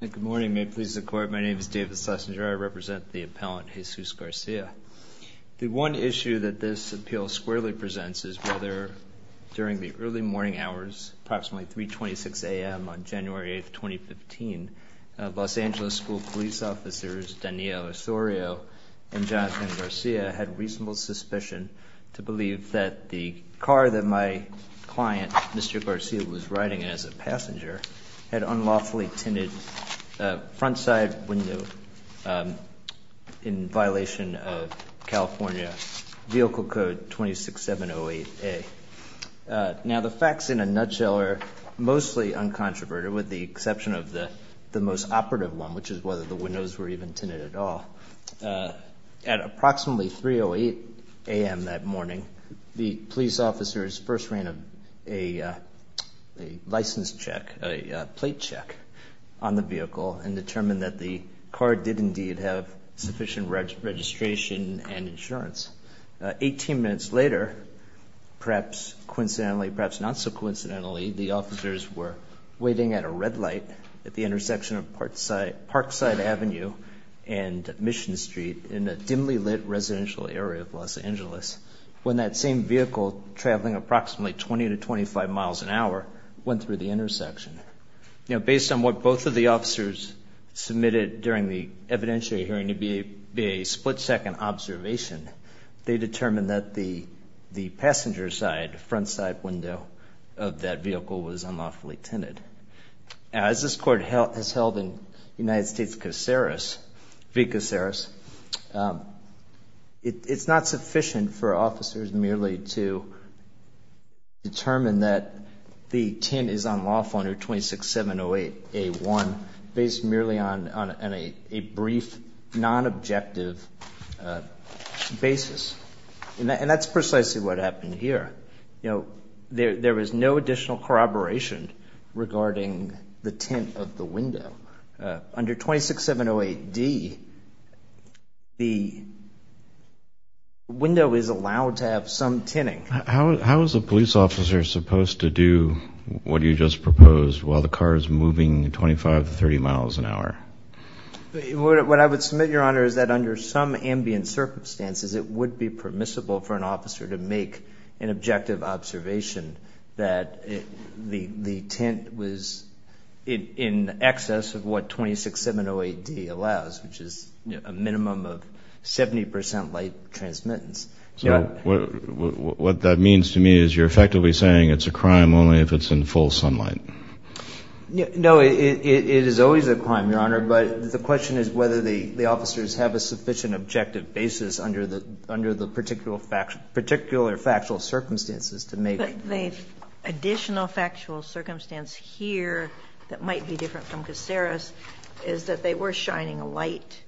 Good morning, may it please the court. My name is David Sessinger. I represent the appellant Jesus Garcia. The one issue that this appeal squarely presents is whether during the early morning hours approximately 326 a.m. on January 8th 2015, Los Angeles School police officers Danilo Osorio and Jonathan Garcia had reasonable suspicion to believe that the car that my client Mr. Garcia was riding as a passenger had unlawfully tinted a front side window in violation of California Vehicle Code 26708A. Now the facts in a nutshell are mostly uncontroverted with the exception of the the most operative one which is whether the windows were even tinted at all. At approximately 308 a.m. that morning the police officers first ran a license check, a plate check on the vehicle and determined that the car did indeed have sufficient registration and insurance. Eighteen minutes later, perhaps coincidentally, perhaps not so coincidentally, the officers were waiting at a red light at the intersection of Parkside Avenue and Mission Street in a dimly lit residential area of Los Angeles when that same vehicle traveling approximately 20 to 25 miles an hour went through the intersection. Now based on what both of the officers submitted during the evidentiary hearing to be a split-second observation, they determined that the the passenger side front side window of that vehicle was unlawfully tinted. As this court has held in United States it's not sufficient for officers merely to determine that the tint is unlawful under 26708A1 based merely on a brief non-objective basis and that's precisely what happened here. You know there was no additional corroboration regarding the tint of the window. Under 26708D the window is allowed to have some tinting. How is a police officer supposed to do what you just proposed while the car is moving 25 to 30 miles an hour? What I would submit your honor is that under some ambient circumstances it would be permissible for an officer to make an objective observation that the tint was in excess of what 26708D allows which is a minimum of 70% light transmittance. So what that means to me is you're effectively saying it's a crime only if it's in full sunlight. No it is always a crime your honor but the question is whether the the officers have a sufficient objective basis under the under the particular factual circumstances to make. The additional factual circumstance here that might be different from Caceres is that they were shining a light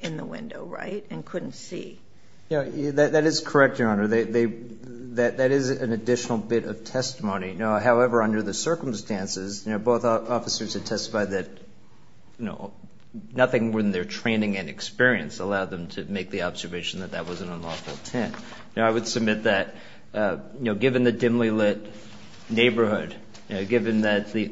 in the window right and couldn't see. Yeah that is correct your honor. That is an additional bit of testimony. Now however under the circumstances you know both officers had testified that you know nothing more than their training and experience allowed them to make the observation that that was an unlawful tint. Now I would submit that you know given the dimly lit neighborhood given that the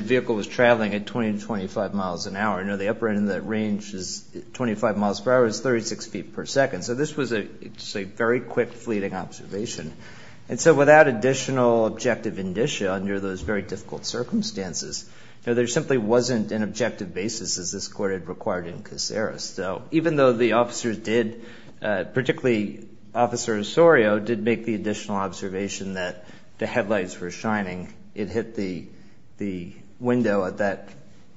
vehicle was traveling at 20 to 25 miles an hour you know the upper end in that range is 25 miles per hour is 36 feet per second. So this was a very quick fleeting observation and so without additional objective indicia under those very difficult circumstances you know there simply wasn't an objective basis as this court had required in Caceres. So even though the officer Osorio did make the additional observation that the headlights were shining it hit the the window at that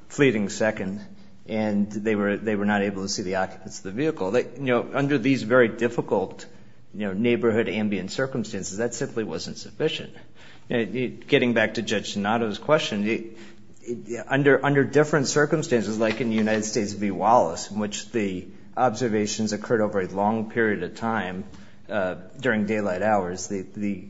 fleeting second and they were they were not able to see the occupants of the vehicle. They you know under these very difficult you know neighborhood ambient circumstances that simply wasn't sufficient. Getting back to Judge Donato's question under under different circumstances like in the United States v. Wallace in which the observations occurred over a long period of time during daylight hours the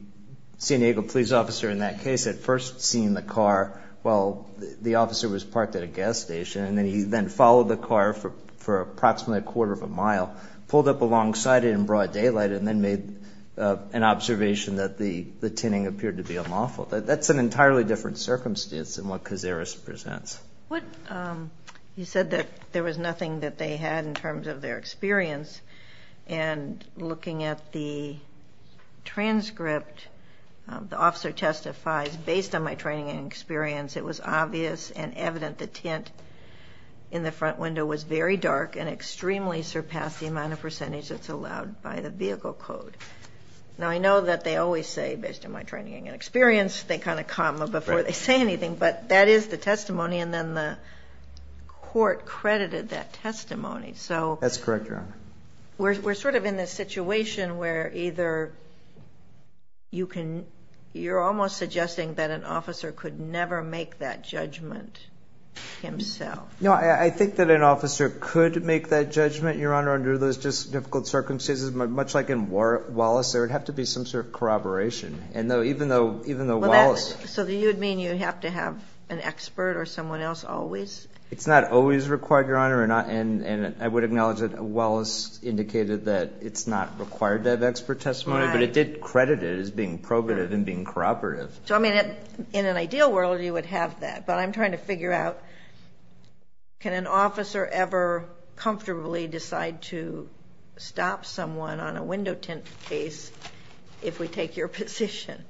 San Diego police officer in that case had first seen the car while the officer was parked at a gas station and then he then followed the car for for approximately a quarter of a mile pulled up alongside it in broad daylight and then made an observation that the the tinning appeared to be unlawful. That's an entirely different circumstance than what Caceres presents. What you said that there was nothing that they had in terms of their experience and looking at the transcript the officer testifies based on my training and experience it was obvious and evident the tint in the front window was very dark and extremely surpassed the amount of percentage that's allowed by the vehicle code. Now I know that they always say based on my training and experience they kind of comma before they say anything but that is the testimony and then the court accredited that testimony. So that's correct Your Honor. We're sort of in this situation where either you can you're almost suggesting that an officer could never make that judgment himself. No I think that an officer could make that judgment Your Honor under those just difficult circumstances much like in Wallace there would have to be some sort of corroboration and though even though even though Wallace. So you'd mean you have to have an expert or someone else always? It's not always required Your Honor and I would acknowledge that Wallace indicated that it's not required to have expert testimony but it did credit it as being probative and being corroborative. So I mean it in an ideal world you would have that but I'm trying to figure out can an officer ever comfortably decide to stop someone on a window tint case if we take your position?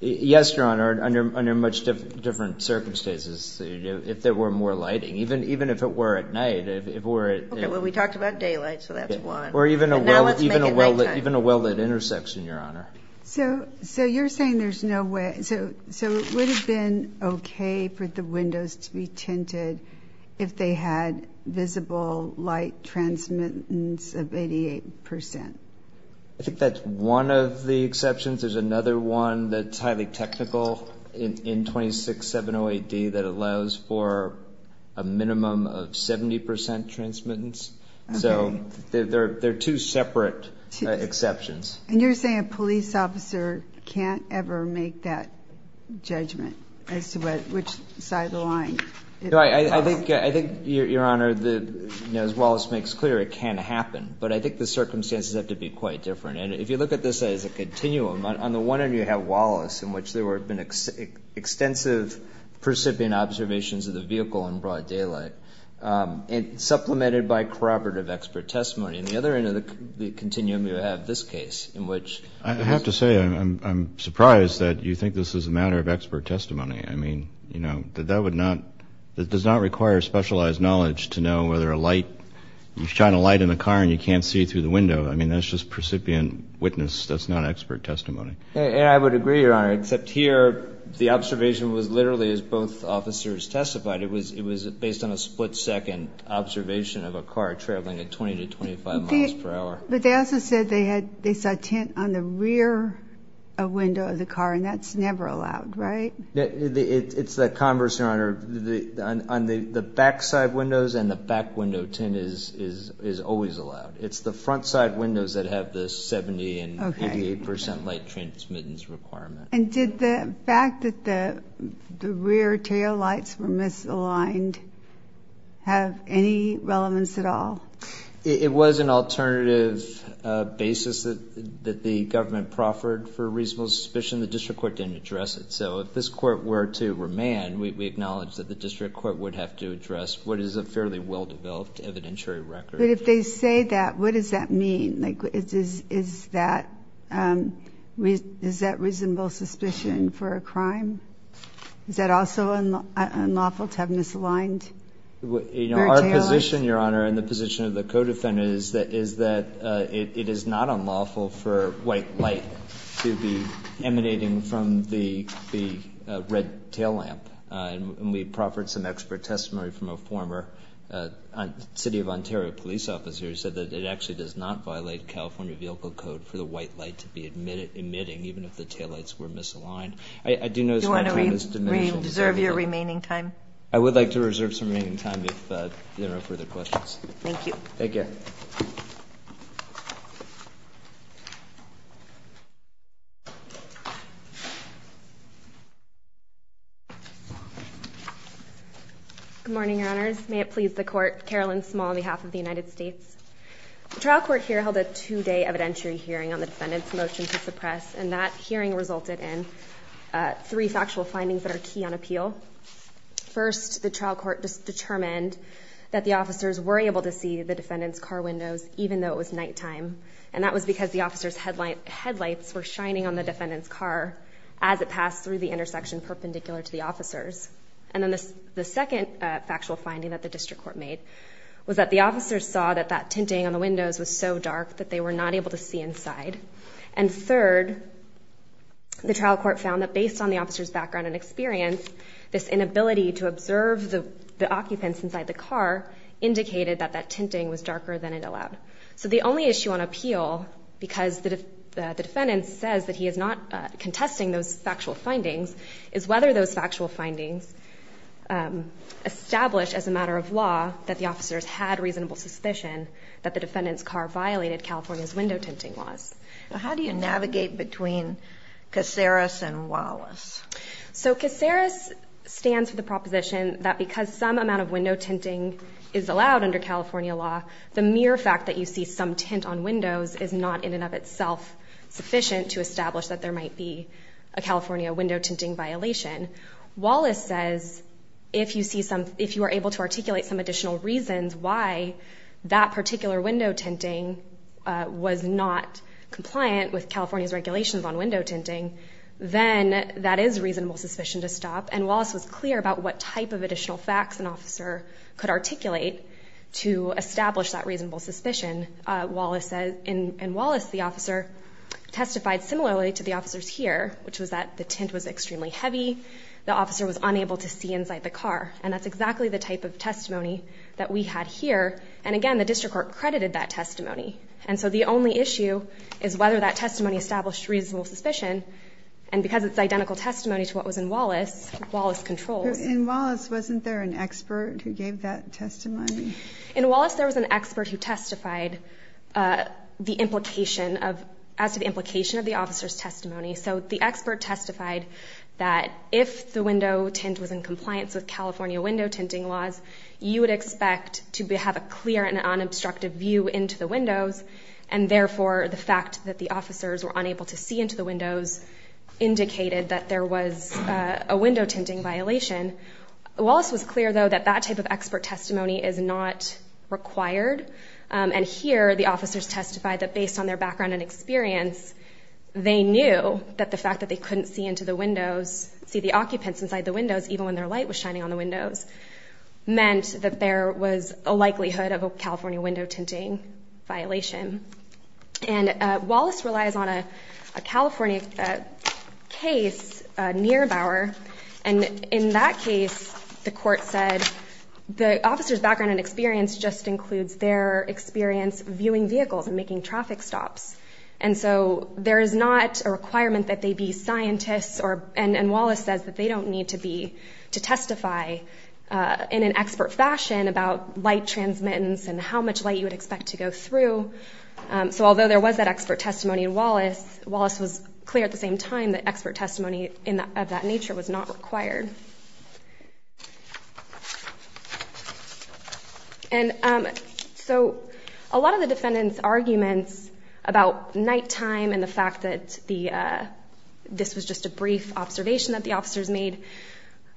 Yes Your Honor under much different circumstances if there were more lighting even even if it were at night. Okay well we talked about daylight so that's one. Or even a well-lit intersection Your Honor. So so you're saying there's no way so so it would have been okay for the windows to be tinted if they had visible light transmittance of 88%. I think that's one of the exceptions. There's another one that's highly technical in 2670AD that allows for a minimum of 70% transmittance. So they're they're two separate exceptions. And you're saying a police officer can't ever make that judgment as to which side of the line. I think I think Your Honor that as Wallace makes clear it can happen but I think the circumstances have to be quite different and if you look at this as a continuum on the one end you have Wallace in which there were been extensive percipient observations of the vehicle in broad daylight and supplemented by corroborative expert testimony and the other end of the continuum you have this case in which. I have to say I'm surprised that you think this is a matter of expert testimony I mean you know that that would not that does not require specialized knowledge to know whether a light you shine a light in the car and you can't see through the window I mean that's just percipient witness that's not expert testimony. And I would agree Your Honor except here the observation was literally as both officers testified it was it was based on a split-second observation of a car traveling at 20 to 25 miles per hour. But they also said they had they saw tint on the rear window of the car and that's never allowed right? It's the converse Your Honor on the the backside windows and the back window tint is always allowed. It's the front side windows that have this 70 and 88 percent light transmittance requirement. And did the fact that the rear taillights were misaligned have any relevance at all? It was an alternative basis that the government proffered for reasonable suspicion the district court didn't address it so if this court were to remand we acknowledge that the district court would have to address what is a well-developed evidentiary record. But if they say that what does that mean? Like it is is that we is that reasonable suspicion for a crime? Is that also unlawful to have misaligned rear taillights? Our position Your Honor and the position of the co-defendant is that is that it is not unlawful for white light to be emanating from the the red taillamp and we proffered some expert testimony from a City of Ontario police officer who said that it actually does not violate California Vehicle Code for the white light to be admitted emitting even if the taillights were misaligned. I do know... Do you want to reserve your remaining time? I would like to reserve some remaining time if there are no further questions. Thank you. Thank you. Good morning, Your Honors. May it please the court, Carolyn Small on behalf of the United States. The trial court here held a two-day evidentiary hearing on the defendant's motion to suppress and that hearing resulted in three factual findings that are key on appeal. First, the trial court determined that the officers were able to see the defendant's car windows even though it was not a white light. And that was because the officer's headlights were shining on the defendant's car as it passed through the intersection perpendicular to the officers. And then the second factual finding that the district court made was that the officers saw that that tinting on the windows was so dark that they were not able to see inside. And third, the trial court found that based on the officer's background and experience, this inability to observe the occupants inside the car indicated that that tinting was darker than it allowed. So the only issue on appeal, because the defendant says that he is not contesting those factual findings, is whether those factual findings established as a matter of law that the officers had reasonable suspicion that the defendant's car violated California's window tinting laws. How do you navigate between Caceres and Wallace? So Caceres stands for the proposition that because some amount of window tinting is allowed under California law, the mere fact that you see some tint on windows is not in and of itself sufficient to establish that there might be a California window tinting violation. Wallace says if you see some, if you are able to articulate some additional reasons why that particular window tinting was not compliant with California's regulations on window tinting, then that is reasonable suspicion to stop. And Wallace was clear about what type of additional facts an officer could articulate to establish that reasonable suspicion. In Wallace, the officer testified similarly to the officers here, which was that the tint was extremely heavy, the officer was unable to see inside the car, and that's exactly the type of testimony that we had here, and again, the district court credited that testimony. And so the only issue is whether that testimony established reasonable suspicion, and because it's identical testimony to what was in Wallace, Wallace controls. In Wallace, wasn't there an expert who gave that testimony? In Wallace, there was an expert who testified the implication of, as to the implication of the officer's testimony. So the expert testified that if the window tint was in compliance with California window tinting laws, you would expect to have a clear and unobstructed view into the windows, and therefore, the fact that the officers were unable to see into the windows indicated that there was a window tinting violation. Wallace was clear, though, that that type of expert testimony is not required, and here, the officers testified that based on their background and experience, they knew that the fact that they couldn't see into the windows, see the occupants inside the windows, even when their light was shining on the windows, meant that there was a likelihood of a California window tinting violation. And Wallace relies on a California case, Nierbauer, and in that case, the court said the officer's background and experience just includes their experience viewing vehicles and making traffic stops, and so there is not a requirement that they be scientists or, and Wallace says that they don't need to be, to testify in an expert fashion about light transmittance and how much light you would expect to go through. So although there was that expert testimony in Wallace, Wallace was clear at the same time that expert testimony of that nature was not required. And so a lot of the defendants' arguments about nighttime and the fact that the, this was just a brief observation that the officers made,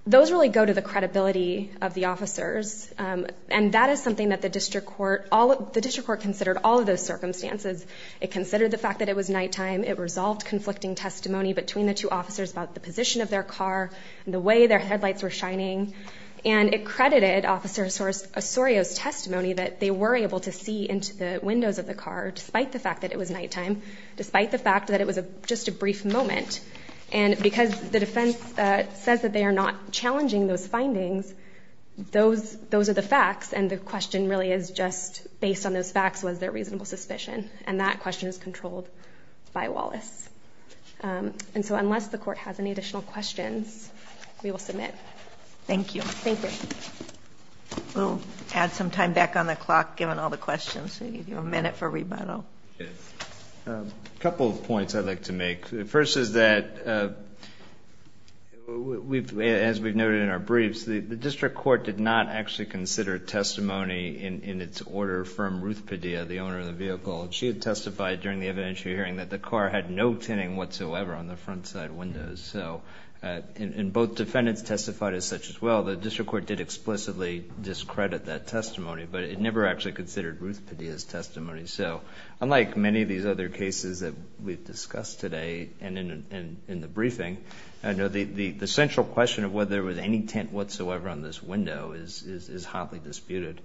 those really go to the credibility of the officers, and that is something that the district court, all of, the district court considered all of those circumstances. It considered the fact that it was nighttime. It resolved conflicting testimony between the two officers about the position of their car and the way their headlights were shining, and it credited Officer Osorio's testimony that they were able to see into the windows of the car, despite the fact that it was nighttime, despite the fact that it was just a brief moment, and because the defense says that they are not challenging those findings, those, those are the facts, and the question really is just, based on those facts, was there reasonable suspicion? And that question is controlled by Wallace. And so unless the court has any additional questions, we will submit. Thank you. Thank you. We'll add some time back on the clock, given all the questions. We need a minute for rebuttal. A couple of points I'd like to make. First is that we've, as we've noted in our briefs, the district court did not actually consider testimony in its order from Ruth Padilla, the owner of the vehicle, and she had testified during the evidentiary hearing that the car had no tinting whatsoever on the front side windows. So, and both defendants testified as such as well. The district court did explicitly discredit that testimony, but it never actually considered Ruth Padilla's testimony. So unlike many of these other cases that we've discussed today and in the briefing, I know the central question of whether there was any tint whatsoever on this window is hotly disputed.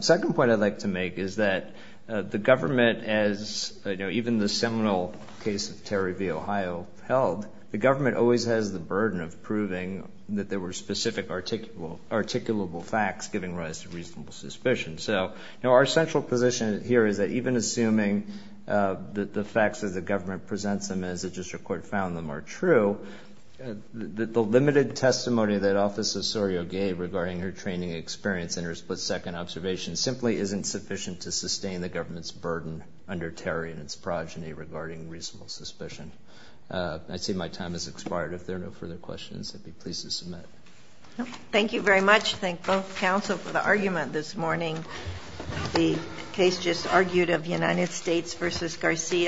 Second point I'd like to make is that the government, as even the seminal case of Terry v. Ohio held, the government always has the burden of proving that there were specific articulable facts giving rise to reasonable suspicion. So, you know, our central position here is that even assuming that the facts that the government presents them as the district court found them are true, the limited testimony that Officer Sorio gave regarding her training experience and her split second observation simply isn't sufficient to sustain the government's burden under Terry and its progeny regarding reasonable suspicion. I see my time has expired. If there are no further questions, I'd be pleased to submit. Thank you very much. Thank both counsel for the argument this morning. The case just argued of United States versus Garcia.